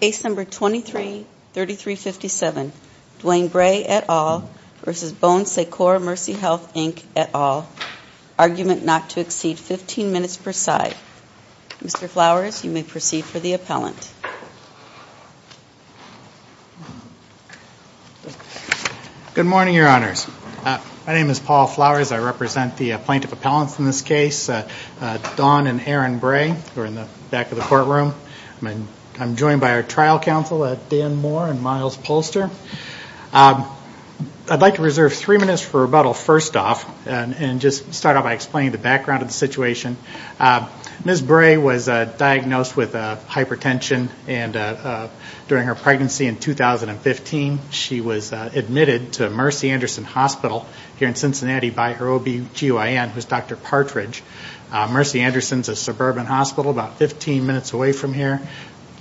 Case No. 23-3357, Dwan Bray et al. v. Bon Secours Mercy Health, Inc. et al. Argument not to exceed 15 minutes per side. Mr. Flowers, you may proceed for the appellant. Good morning, Your Honors. My name is Paul Flowers. I represent the plaintiff appellants in this case, Dawn and Aaron Bray, who are in the back of the courtroom. I'm joined by our trial counsel, Dan Moore and Miles Polster. I'd like to reserve three minutes for rebuttal first off and just start out by explaining the background of the situation. Ms. Bray was diagnosed with hypertension during her pregnancy in 2015. She was admitted to Mercy Anderson Hospital here in Cincinnati by her OB-GYN, who is Dr. Partridge. Mercy Anderson is a suburban hospital about 15 minutes away from here.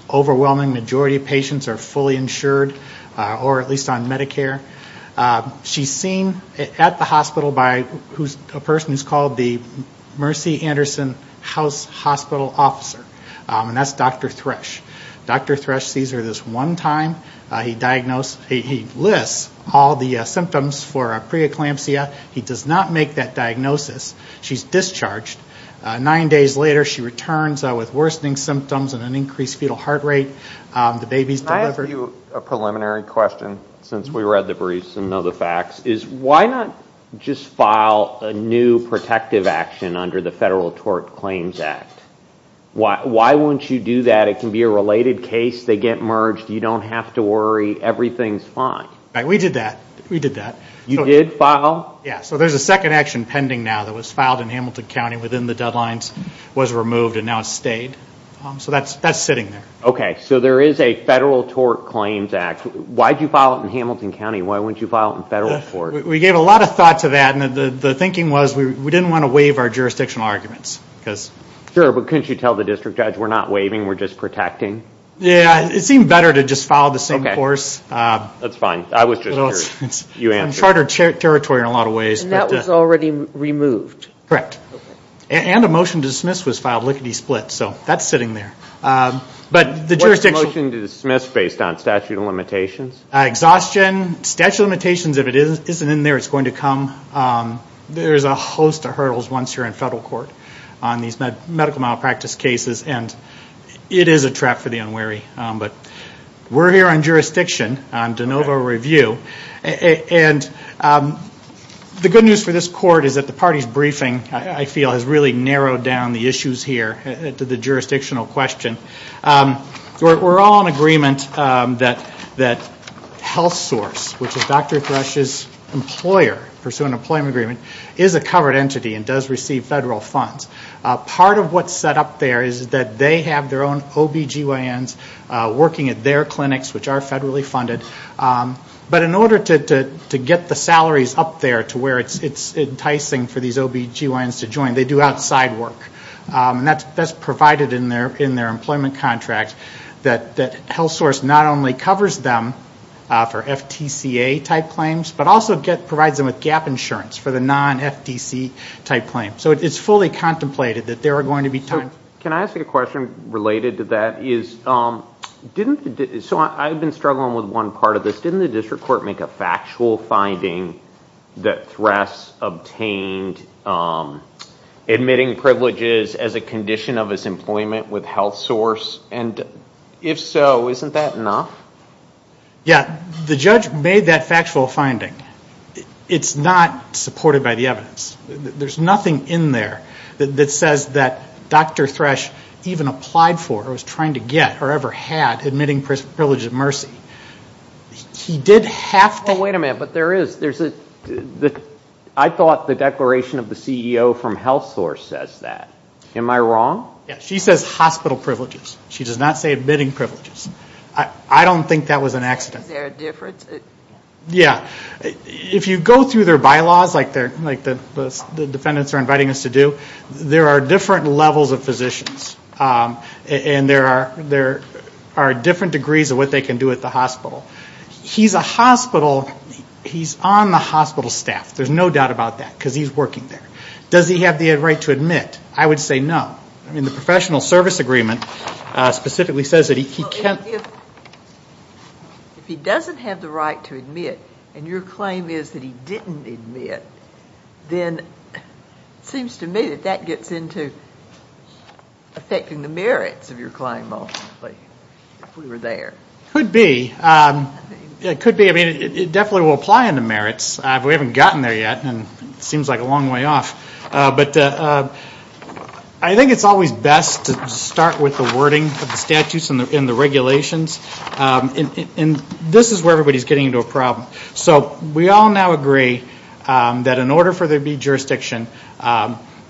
Overwhelming majority of patients are fully insured or at least on Medicare. She's seen at the hospital by a person who's called the Mercy Anderson House Hospital Officer, and that's Dr. Thresh. Dr. Thresh sees her this one time. He lists all the symptoms for a preeclampsia. He does not make that diagnosis. She's discharged. Nine days later she returns with worsening symptoms and an increased fetal heart rate. The baby's delivered. Can I ask you a preliminary question since we read the briefs and know the facts? Why not just file a new protective action under the Federal Tort Claims Act? Why won't you do that? It can be a related case. They get merged. You don't have to worry. Everything's fine. We did that. We did that. You did file? Yeah, so there's a second action pending now that was filed in Hamilton County within the deadlines, was removed, and now it's stayed. So that's sitting there. Okay, so there is a Federal Tort Claims Act. Why did you file it in Hamilton County? Why wouldn't you file it in Federal Court? We gave a lot of thought to that, and the thinking was we didn't want to waive our jurisdictional arguments. Sure, but couldn't you tell the district judge we're not waiving, we're just protecting? Yeah, it seemed better to just file the same course. That's fine. I was just curious. It's uncharted territory in a lot of ways. And that was already removed? Correct. And a motion to dismiss was filed lickety-split, so that's sitting there. What's the motion to dismiss based on statute of limitations? Exhaustion. Statute of limitations, if it isn't in there, it's going to come. There's a host of hurdles once you're in Federal Court on these medical malpractice cases, and it is a trap for the unwary. We're here on jurisdiction, on de novo review, and the good news for this court is that the party's briefing, I feel, has really narrowed down the issues here to the jurisdictional question. We're all in agreement that HealthSource, which is Dr. Thrush's employer, pursuant employment agreement, is a covered entity and does receive Federal funds. Part of what's set up there is that they have their own OBGYNs working at their clinics, which are federally funded. But in order to get the salaries up there to where it's enticing for these OBGYNs to join, they do outside work. And that's provided in their employment contract that HealthSource not only covers them for FTCA-type claims, but also provides them with gap insurance for the non-FTC-type claims. So it's fully contemplated that there are going to be times. Can I ask a question related to that? I've been struggling with one part of this. Didn't the district court make a factual finding that Thrush obtained admitting privileges as a condition of his employment with HealthSource? And if so, isn't that enough? Yeah. The judge made that factual finding. It's not supported by the evidence. There's nothing in there that says that Dr. Thrush even applied for or was trying to get or ever had admitting privileges of mercy. He did have to. Oh, wait a minute. But there is. I thought the declaration of the CEO from HealthSource says that. Am I wrong? Yeah. She says hospital privileges. She does not say admitting privileges. I don't think that was an accident. Is there a difference? Yeah. If you go through their bylaws like the defendants are inviting us to do, there are different levels of physicians. And there are different degrees of what they can do at the hospital. He's a hospital. He's on the hospital staff. There's no doubt about that because he's working there. Does he have the right to admit? I would say no. I mean, the professional service agreement specifically says that he can't. If he doesn't have the right to admit and your claim is that he didn't admit, then it seems to me that that gets into affecting the merits of your claim ultimately if we were there. Could be. It could be. I mean, it definitely will apply in the merits. We haven't gotten there yet and it seems like a long way off. But I think it's always best to start with the wording of the statutes and the regulations. And this is where everybody's getting into a problem. So we all now agree that in order for there to be jurisdiction,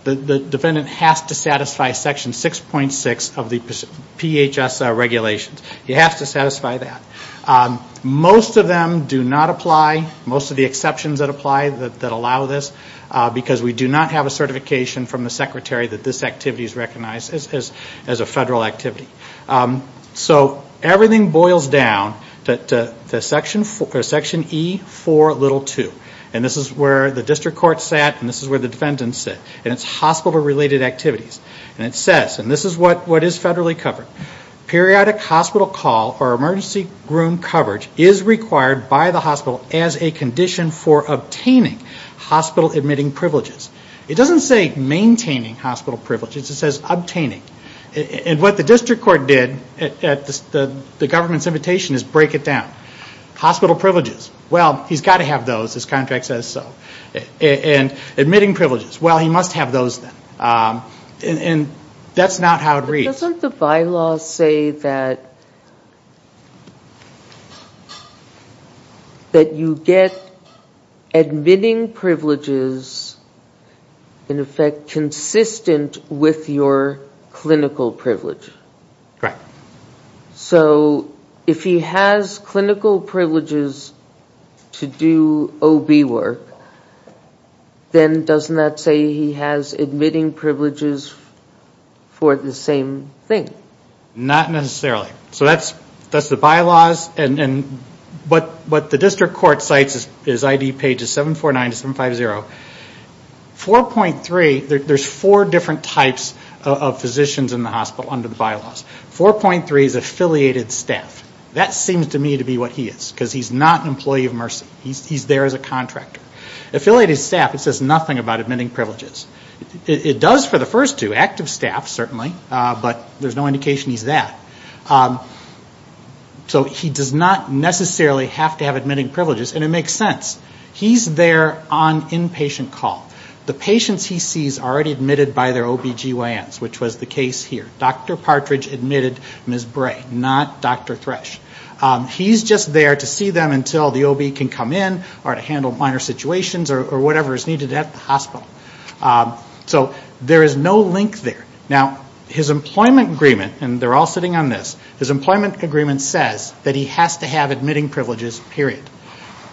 the defendant has to satisfy Section 6.6 of the PHS regulations. You have to satisfy that. Most of them do not apply, most of the exceptions that apply that allow this, because we do not have a certification from the secretary that this activity is recognized as a federal activity. So everything boils down to Section E-4-2. And this is where the district court sat and this is where the defendants sit. And it's hospital-related activities. And it says, and this is what is federally covered, periodic hospital call or emergency room coverage is required by the hospital as a condition for obtaining hospital-admitting privileges. It doesn't say maintaining hospital privileges. It says obtaining. And what the district court did at the government's invitation is break it down. Hospital privileges, well, he's got to have those. His contract says so. And admitting privileges, well, he must have those then. And that's not how it reads. Doesn't the bylaw say that you get admitting privileges, in effect, consistent with your clinical privilege? Right. So if he has clinical privileges to do OB work, then doesn't that say he has admitting privileges for the same thing? Not necessarily. So that's the bylaws. And what the district court cites is ID pages 749 to 750. 4.3, there's four different types of physicians in the hospital under the bylaws. 4.3 is affiliated staff. That seems to me to be what he is, because he's not an employee of Mercy. He's there as a contractor. Affiliated staff, it says nothing about admitting privileges. It does for the first two, active staff, certainly, but there's no indication he's that. So he does not necessarily have to have admitting privileges, and it makes sense. He's there on inpatient call. The patients he sees are already admitted by their OBGYNs, which was the case here. Dr. Partridge admitted Ms. Bray, not Dr. Thresh. He's just there to see them until the OB can come in or to handle minor situations or whatever is needed at the hospital. So there is no link there. Now, his employment agreement, and they're all sitting on this, his employment agreement says that he has to have admitting privileges, period.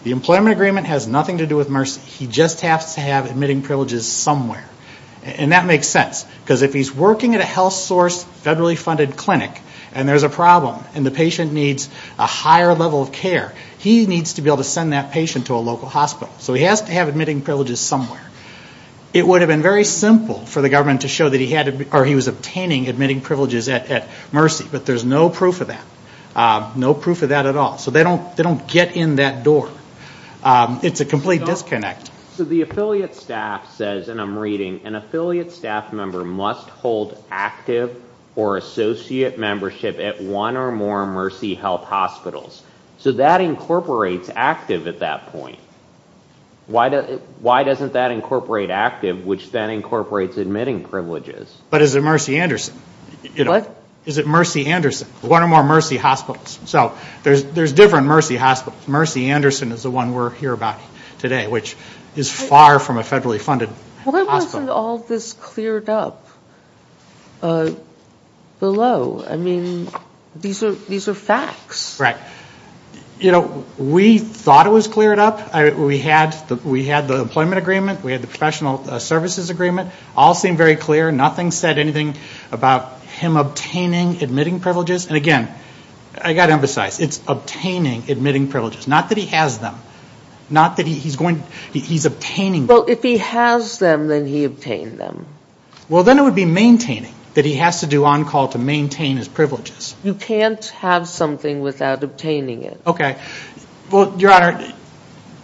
The employment agreement has nothing to do with Mercy. He just has to have admitting privileges somewhere. And that makes sense, because if he's working at a health source, federally funded clinic, and there's a problem, and the patient needs a higher level of care, he needs to be able to send that patient to a local hospital. So he has to have admitting privileges somewhere. It would have been very simple for the government to show that he was obtaining admitting privileges at Mercy, but there's no proof of that, no proof of that at all. So they don't get in that door. It's a complete disconnect. So the affiliate staff says, and I'm reading, an affiliate staff member must hold active or associate membership at one or more Mercy health hospitals. So that incorporates active at that point. Why doesn't that incorporate active, which then incorporates admitting privileges? But is it Mercy Anderson? What? Is it Mercy Anderson, one or more Mercy hospitals? So there's different Mercy hospitals. Mercy Anderson is the one we're here about today, which is far from a federally funded hospital. Why wasn't all this cleared up below? I mean, these are facts. Right. You know, we thought it was cleared up. We had the employment agreement. We had the professional services agreement. All seemed very clear. Nothing said anything about him obtaining admitting privileges. And again, I've got to emphasize, it's obtaining admitting privileges. Not that he has them. Not that he's going, he's obtaining them. Well, if he has them, then he obtained them. Well, then it would be maintaining, that he has to do on call to maintain his privileges. You can't have something without obtaining it. Okay. Well, Your Honor,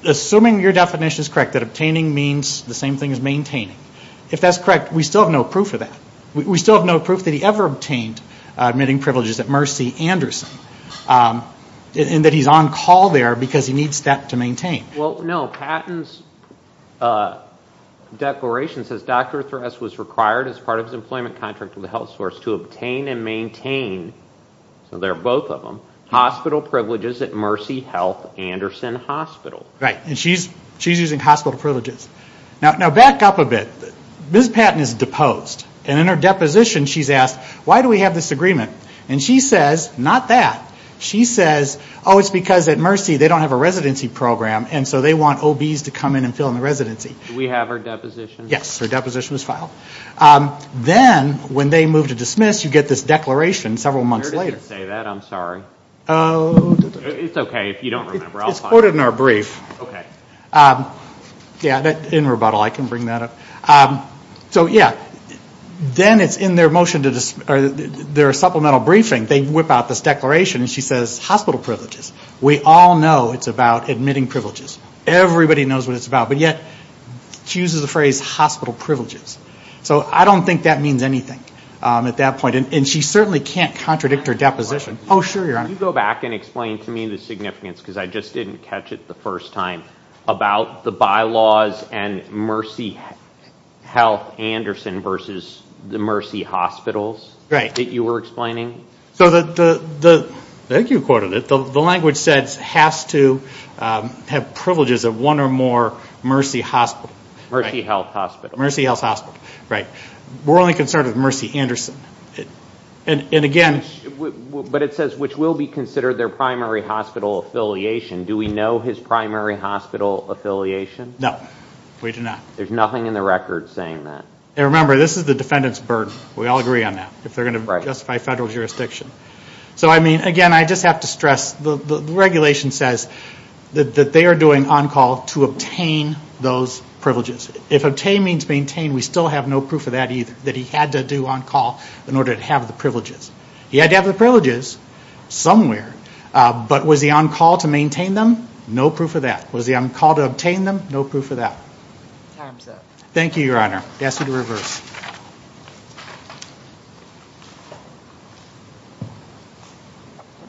assuming your definition is correct, that obtaining means the same thing as maintaining, if that's correct, we still have no proof of that. We still have no proof that he ever obtained admitting privileges at Mercy Anderson. And that he's on call there because he needs that to maintain. Well, no. Patton's declaration says, Dr. Thress was required as part of his employment contract with a health source to obtain and maintain, so they're both of them, hospital privileges at Mercy Health Anderson Hospital. Right. And she's using hospital privileges. Now, back up a bit. Ms. Patton is deposed. And in her deposition, she's asked, why do we have this agreement? And she says, not that. She says, oh, it's because at Mercy, they don't have a residency program, and so they want OBs to come in and fill in the residency. Do we have her deposition? Yes. Her deposition was filed. Then, when they move to dismiss, you get this declaration several months later. It doesn't say that. I'm sorry. It's okay. If you don't remember, I'll find it. It's quoted in our brief. Okay. Yeah, in rebuttal, I can bring that up. So, yeah. Then, it's in their supplemental briefing, they whip out this declaration, and she says, hospital privileges. We all know it's about admitting privileges. Everybody knows what it's about. But yet, she uses the phrase hospital privileges. So I don't think that means anything at that point. And she certainly can't contradict her deposition. Oh, sure, Your Honor. Could you go back and explain to me the significance, because I just didn't catch it the first time, about the bylaws and Mercy Health Anderson versus the Mercy Hospitals that you were explaining? I think you quoted it. The language says has to have privileges of one or more Mercy Hospital. Mercy Health Hospital. Mercy Health Hospital. Right. We're only concerned with Mercy Anderson. And again... But it says, which will be considered their primary hospital affiliation. Do we know his primary hospital affiliation? No, we do not. There's nothing in the record saying that. And remember, this is the defendant's burden. We all agree on that, if they're going to justify federal jurisdiction. So, I mean, again, I just have to stress, the regulation says that they are doing on-call to obtain those privileges. If obtain means maintain, we still have no proof of that either, that he had to do on-call in order to have the privileges. He had to have the privileges somewhere, but was he on-call to maintain them? No proof of that. Was he on-call to obtain them? No proof of that. Time's up. Thank you, Your Honor. I ask you to reverse.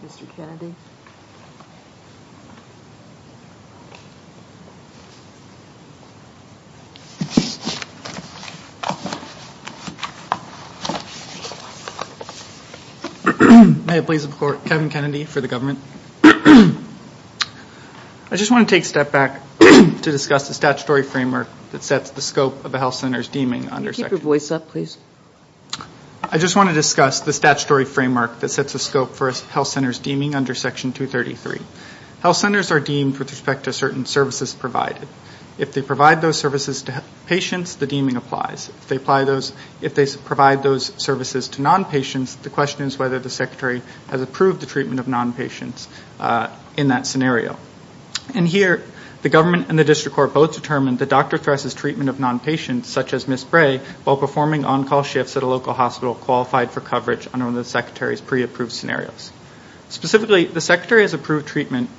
Mr. Kennedy. May it please the Court. Kevin Kennedy for the government. I just want to take a step back to discuss the statutory framework that sets the scope of a health center's deeming under Section 233. Can you keep your voice up, please? I just want to discuss the statutory framework that sets the scope for a health center's deeming under Section 233. Health centers are deemed with respect to certain services provided. If they provide those services to patients, the deeming applies. If they provide those services to non-patients, the question is whether the secretary has approved the treatment of non-patients in that scenario. And here, the government and the district court both determined that Dr. Thress's treatment of non-patients, such as Ms. Bray, while performing on-call shifts at a local hospital, qualified for coverage under one of the secretary's pre-approved scenarios. Specifically, the secretary has approved treatment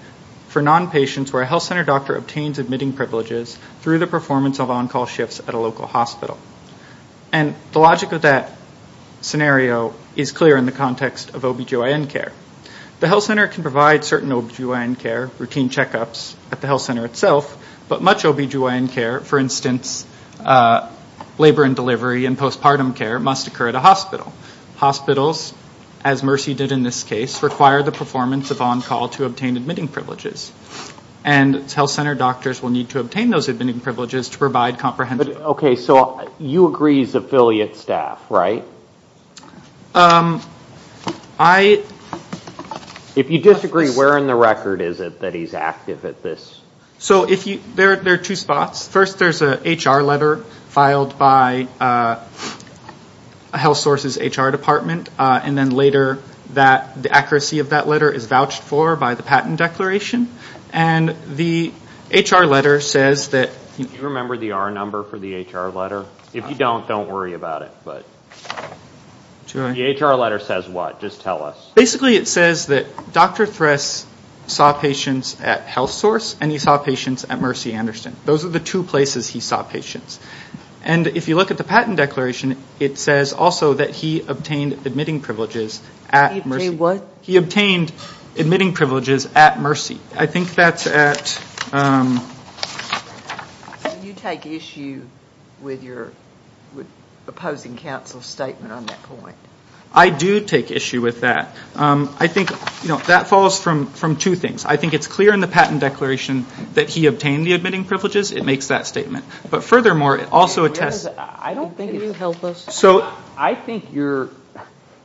for non-patients where a health center doctor obtains admitting privileges through the performance of on-call shifts at a local hospital. And the logic of that scenario is clear in the context of OB-GYN care. The health center can provide certain OB-GYN care, routine checkups, at the health center itself, but much OB-GYN care, for instance, labor and delivery and postpartum care, must occur at a hospital. Hospitals, as Mercy did in this case, require the performance of on-call to obtain admitting privileges. And health center doctors will need to obtain those admitting privileges to provide comprehensive... Okay, so you agree he's affiliate staff, right? I... If you disagree, where in the record is it that he's active at this? So there are two spots. First, there's an HR letter filed by a health source's HR department, and then later the accuracy of that letter is vouched for by the patent declaration. And the HR letter says that... Do you remember the R number for the HR letter? If you don't, don't worry about it. The HR letter says what? Just tell us. Basically, it says that Dr. Thress saw patients at HealthSource and he saw patients at Mercy Anderson. Those are the two places he saw patients. And if you look at the patent declaration, it says also that he obtained admitting privileges at Mercy. He obtained what? He obtained admitting privileges at Mercy. I think that's at... Do you take issue with your opposing counsel's statement on that point? I do take issue with that. I think that falls from two things. I think it's clear in the patent declaration that he obtained the admitting privileges. It makes that statement. But furthermore, it also attests... Can you help us? I think you're...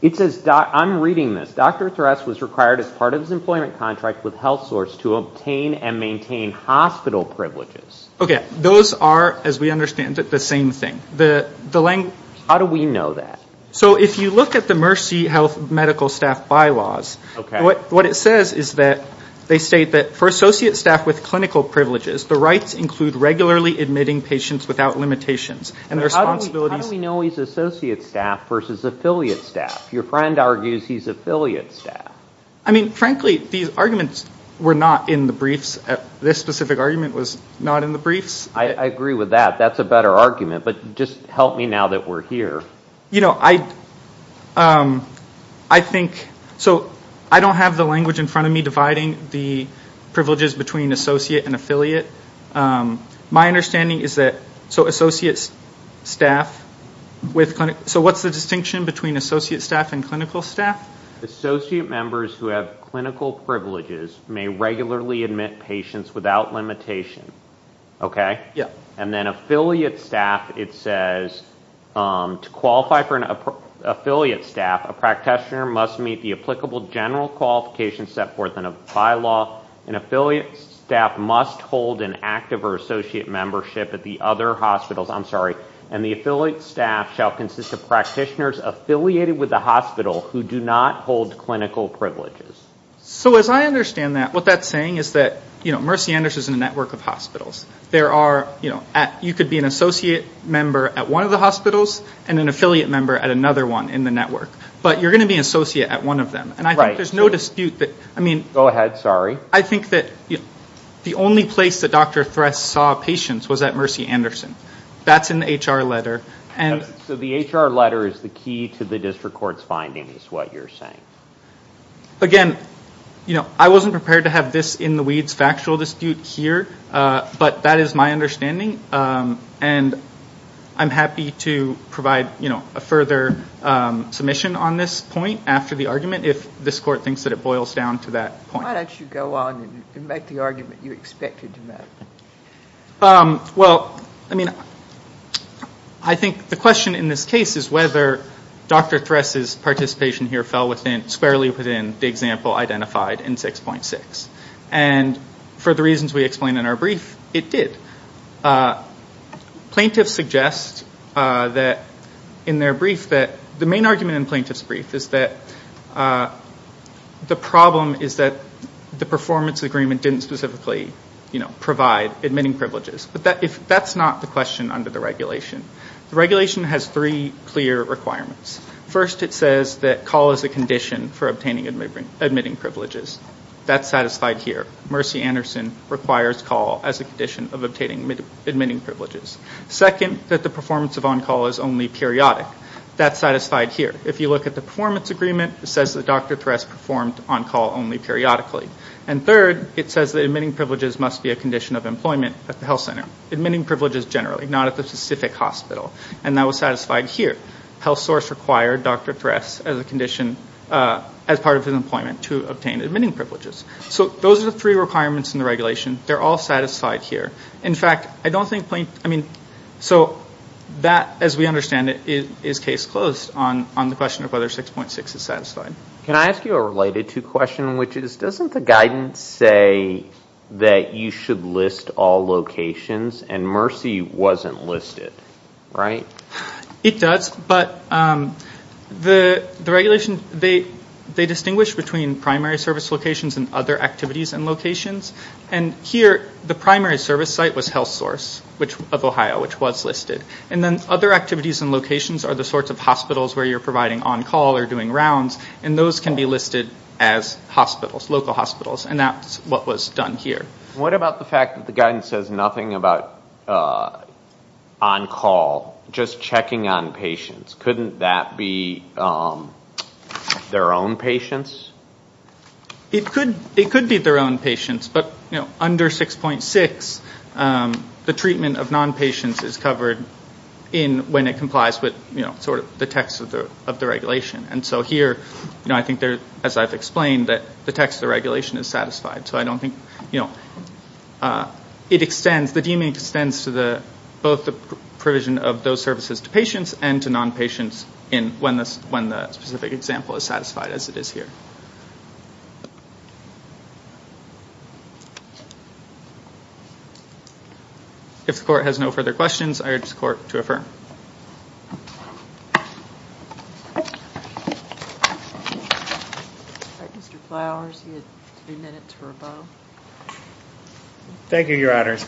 It says, I'm reading this. Dr. Thress was required as part of his employment contract with HealthSource to obtain and maintain hospital privileges. Okay. Those are, as we understand it, the same thing. How do we know that? So if you look at the Mercy health medical staff bylaws, what it says is that they state that for associate staff with clinical privileges, the rights include regularly admitting patients without limitations. And the responsibilities... How do we know he's associate staff versus affiliate staff? Your friend argues he's affiliate staff. I mean, frankly, these arguments were not in the briefs. This specific argument was not in the briefs. I agree with that. That's a better argument. But just help me now that we're here. You know, I think... So I don't have the language in front of me dividing the privileges between associate and affiliate. My understanding is that... So associate staff with... So what's the distinction between associate staff and clinical staff? Associate members who have clinical privileges may regularly admit patients without limitation. Okay? Yeah. And then affiliate staff, it says, to qualify for an affiliate staff, a practitioner must meet the applicable general qualification set forth in a bylaw. An affiliate staff must hold an active or associate membership at the other hospitals. I'm sorry. And the affiliate staff shall consist of practitioners affiliated with the hospital who do not hold clinical privileges. So as I understand that, what that's saying is that, you know, Mercy Anderson is a network of hospitals. There are, you know, you could be an associate member at one of the hospitals and an affiliate member at another one in the network. But you're going to be an associate at one of them. And I think there's no dispute that... Go ahead. Sorry. I think that the only place that Dr. Thress saw patients was at Mercy Anderson. That's in the HR letter. So the HR letter is the key to the district court's findings is what you're saying. Again, you know, I wasn't prepared to have this in the weeds factual dispute here. But that is my understanding. And I'm happy to provide, you know, a further submission on this point after the argument if this court thinks that it boils down to that point. Why don't you go on and make the argument you expected to make? Well, I mean, I think the question in this case is whether Dr. Thress's participation here fell within, squarely within the example identified in 6.6. And for the reasons we explained in our brief, it did. Plaintiffs suggest that in their brief that the main argument in plaintiff's brief is that the problem is that the performance agreement didn't specifically, you know, provide admitting privileges. But that's not the question under the regulation. The regulation has three clear requirements. First, it says that call is a condition for obtaining admitting privileges. That's satisfied here. Mercy Anderson requires call as a condition of obtaining admitting privileges. Second, that the performance of on-call is only periodic. That's satisfied here. If you look at the performance agreement, it says that Dr. Thress performed on-call only periodically. And third, it says that admitting privileges must be a condition of employment at the health center. Admitting privileges generally, not at the specific hospital. And that was satisfied here. Health source required Dr. Thress as a condition, as part of his employment, to obtain admitting privileges. So those are the three requirements in the regulation. They're all satisfied here. In fact, I don't think Plaintiffs, I mean, so that, as we understand it, is case closed on the question of whether 6.6 is satisfied. Can I ask you a related to question, which is, doesn't the guidance say that you should list all locations and Mercy wasn't listed, right? It does. But the regulation, they distinguish between primary service locations and other activities and locations. And here, the primary service site was health source of Ohio, which was listed. And then other activities and locations are the sorts of hospitals where you're providing on-call or doing rounds. And those can be listed as hospitals, local hospitals. And that's what was done here. What about the fact that the guidance says nothing about on-call, just checking on patients? Couldn't that be their own patients? It could be their own patients. But under 6.6, the treatment of non-patients is covered when it complies with sort of the text of the regulation. And so here, I think, as I've explained, the text of the regulation is satisfied. So I don't think, you know, it extends, the deeming extends to both the provision of those services to patients and to non-patients when the specific example is satisfied, as it is here. If the court has no further questions, I urge the court to affirm. Thank you. All right, Mr. Flowers, you had three minutes or above. Thank you, Your Honors.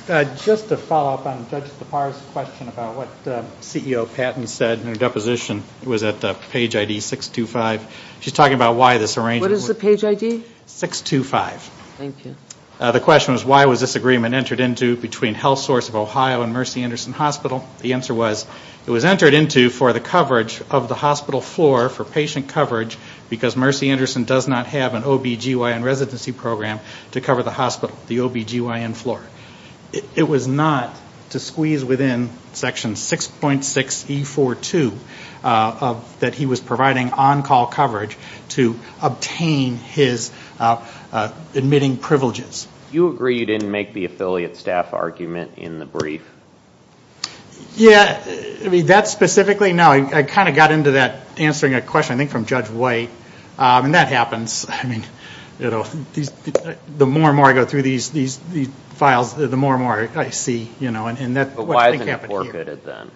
Just to follow up on Judge DePauw's question about what CEO Patton said in her deposition, it was at page ID 625. She's talking about why this arrangement. What is the page ID? 625. Thank you. The question was, why was this agreement entered into between health source of Ohio and Mercy Anderson Hospital? The answer was, it was entered into for the coverage of the hospital floor for patient coverage because Mercy Anderson does not have an OBGYN residency program to cover the hospital, the OBGYN floor. It was not to squeeze within Section 6.6E42 that he was providing on-call coverage to obtain his admitting privileges. You agree you didn't make the affiliate staff argument in the brief? Yeah, that specifically, no. I kind of got into that answering a question, I think, from Judge White, and that happens. The more and more I go through these files, the more and more I see. But why isn't it forfeited then?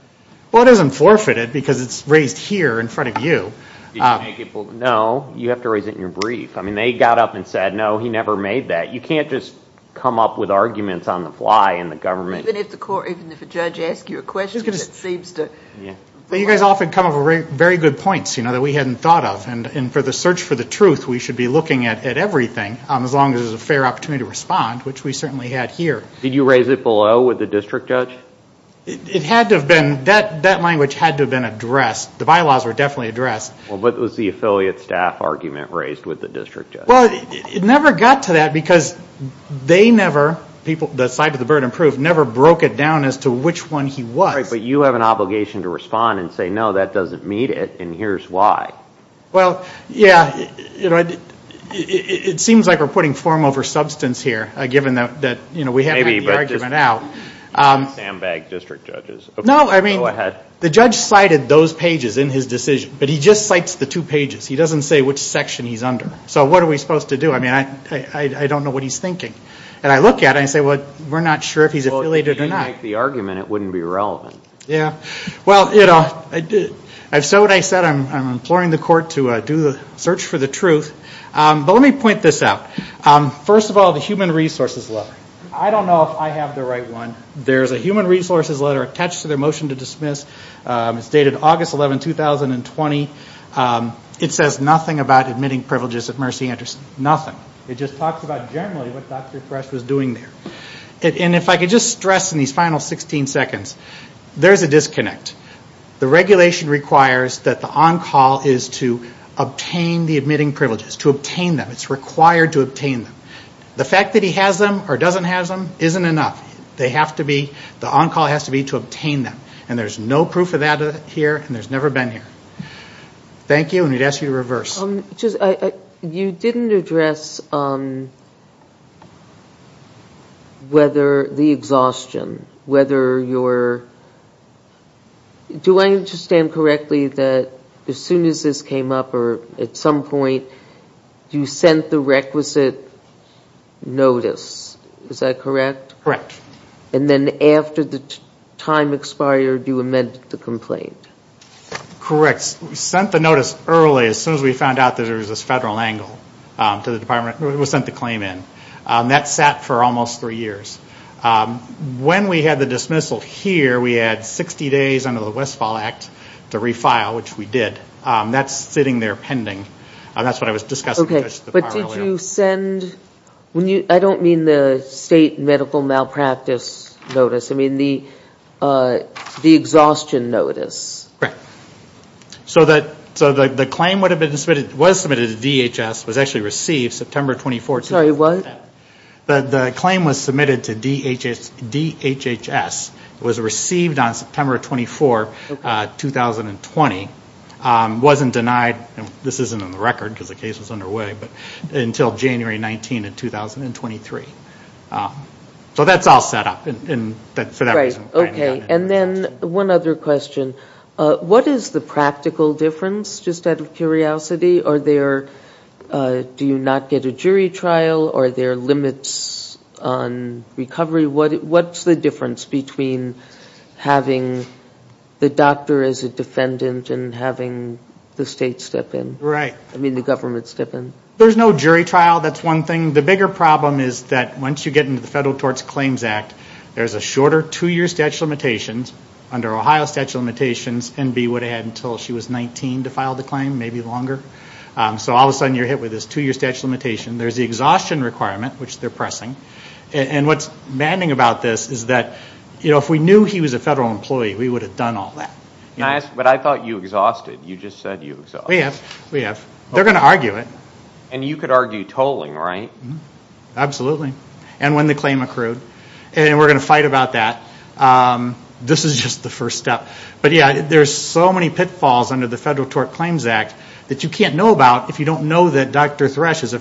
Well, it isn't forfeited because it's raised here in front of you. No, you have to raise it in your brief. I mean, they got up and said, no, he never made that. You can't just come up with arguments on the fly in the government. Even if the court, even if a judge asks you a question, it seems to. You guys often come up with very good points, you know, that we hadn't thought of. And for the search for the truth, we should be looking at everything as long as there's a fair opportunity to respond, which we certainly had here. Did you raise it below with the district judge? It had to have been, that language had to have been addressed. The bylaws were definitely addressed. Well, but it was the affiliate staff argument raised with the district judge. Well, it never got to that because they never, the side of the burden of proof, never broke it down as to which one he was. Right, but you have an obligation to respond and say, no, that doesn't meet it, and here's why. Well, yeah, it seems like we're putting form over substance here, given that we haven't had the argument out. Maybe, but just the sandbag district judges. No, I mean, the judge cited those pages in his decision, but he just cites the two pages. He doesn't say which section he's under. So what are we supposed to do? I mean, I don't know what he's thinking. And I look at it and say, well, we're not sure if he's affiliated or not. Well, if you make the argument, it wouldn't be relevant. Yeah, well, you know, so what I said, I'm imploring the court to do the search for the truth. But let me point this out. First of all, the human resources letter. I don't know if I have the right one. There's a human resources letter attached to their motion to dismiss. It's dated August 11, 2020. It says nothing about admitting privileges of mercy interest. Nothing. It just talks about generally what Dr. Thresh was doing there. And if I could just stress in these final 16 seconds, there's a disconnect. The regulation requires that the on-call is to obtain the admitting privileges, to obtain them. It's required to obtain them. The fact that he has them or doesn't have them isn't enough. They have to be, the on-call has to be to obtain them. And there's no proof of that here, and there's never been here. Thank you, and I'd ask you to reverse. Just, you didn't address whether the exhaustion, whether your, do I understand correctly that as soon as this came up or at some point you sent the requisite notice, is that correct? Correct. And then after the time expired, you amended the complaint. Correct. We sent the notice early as soon as we found out that there was this federal angle to the department. We sent the claim in. That sat for almost three years. When we had the dismissal here, we had 60 days under the Westfall Act to refile, which we did. That's sitting there pending. That's what I was discussing with the judge at the bar earlier. I don't mean the state medical malpractice notice. I mean the exhaustion notice. Correct. So the claim would have been submitted, was submitted to DHS, was actually received September 24, 2010. Sorry, what? The claim was submitted to DHHS. It was received on September 24, 2020. It wasn't denied, and this isn't on the record because the case was underway, but until January 19 of 2023. So that's all set up. Okay. And then one other question. What is the practical difference, just out of curiosity? Are there, do you not get a jury trial? Are there limits on recovery? What's the difference between having the doctor as a defendant and having the state step in? Right. I mean the government step in. There's no jury trial. That's one thing. The bigger problem is that once you get into the Federal Tort Claims Act, there's a shorter two-year statute of limitations, under Ohio statute of limitations, and Bea would have had until she was 19 to file the claim, maybe longer. So all of a sudden you're hit with this two-year statute of limitation. There's the exhaustion requirement, which they're pressing. And what's maddening about this is that if we knew he was a federal employee, we would have done all that. Can I ask, but I thought you exhausted. You just said you exhausted. We have. We have. They're going to argue it. And you could argue tolling, right? Absolutely. And when the claim accrued. And we're going to fight about that. This is just the first step. But, yeah, there's so many pitfalls under the Federal Tort Claims Act that you can't know about if you don't know that is the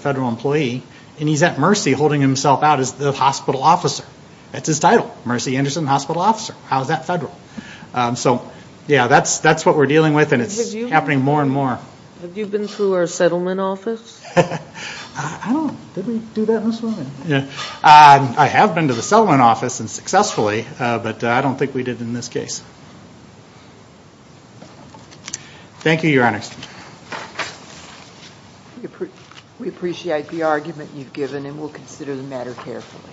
hospital officer. It's his title, Mercy Anderson Hospital Officer. How is that federal? So, yeah, that's what we're dealing with, and it's happening more and more. Have you been through our settlement office? I don't know. Did we do that in this one? I have been to the settlement office, and successfully, but I don't think we did in this case. Thank you, Your Honors. We appreciate the argument you've given, and we'll consider the matter carefully.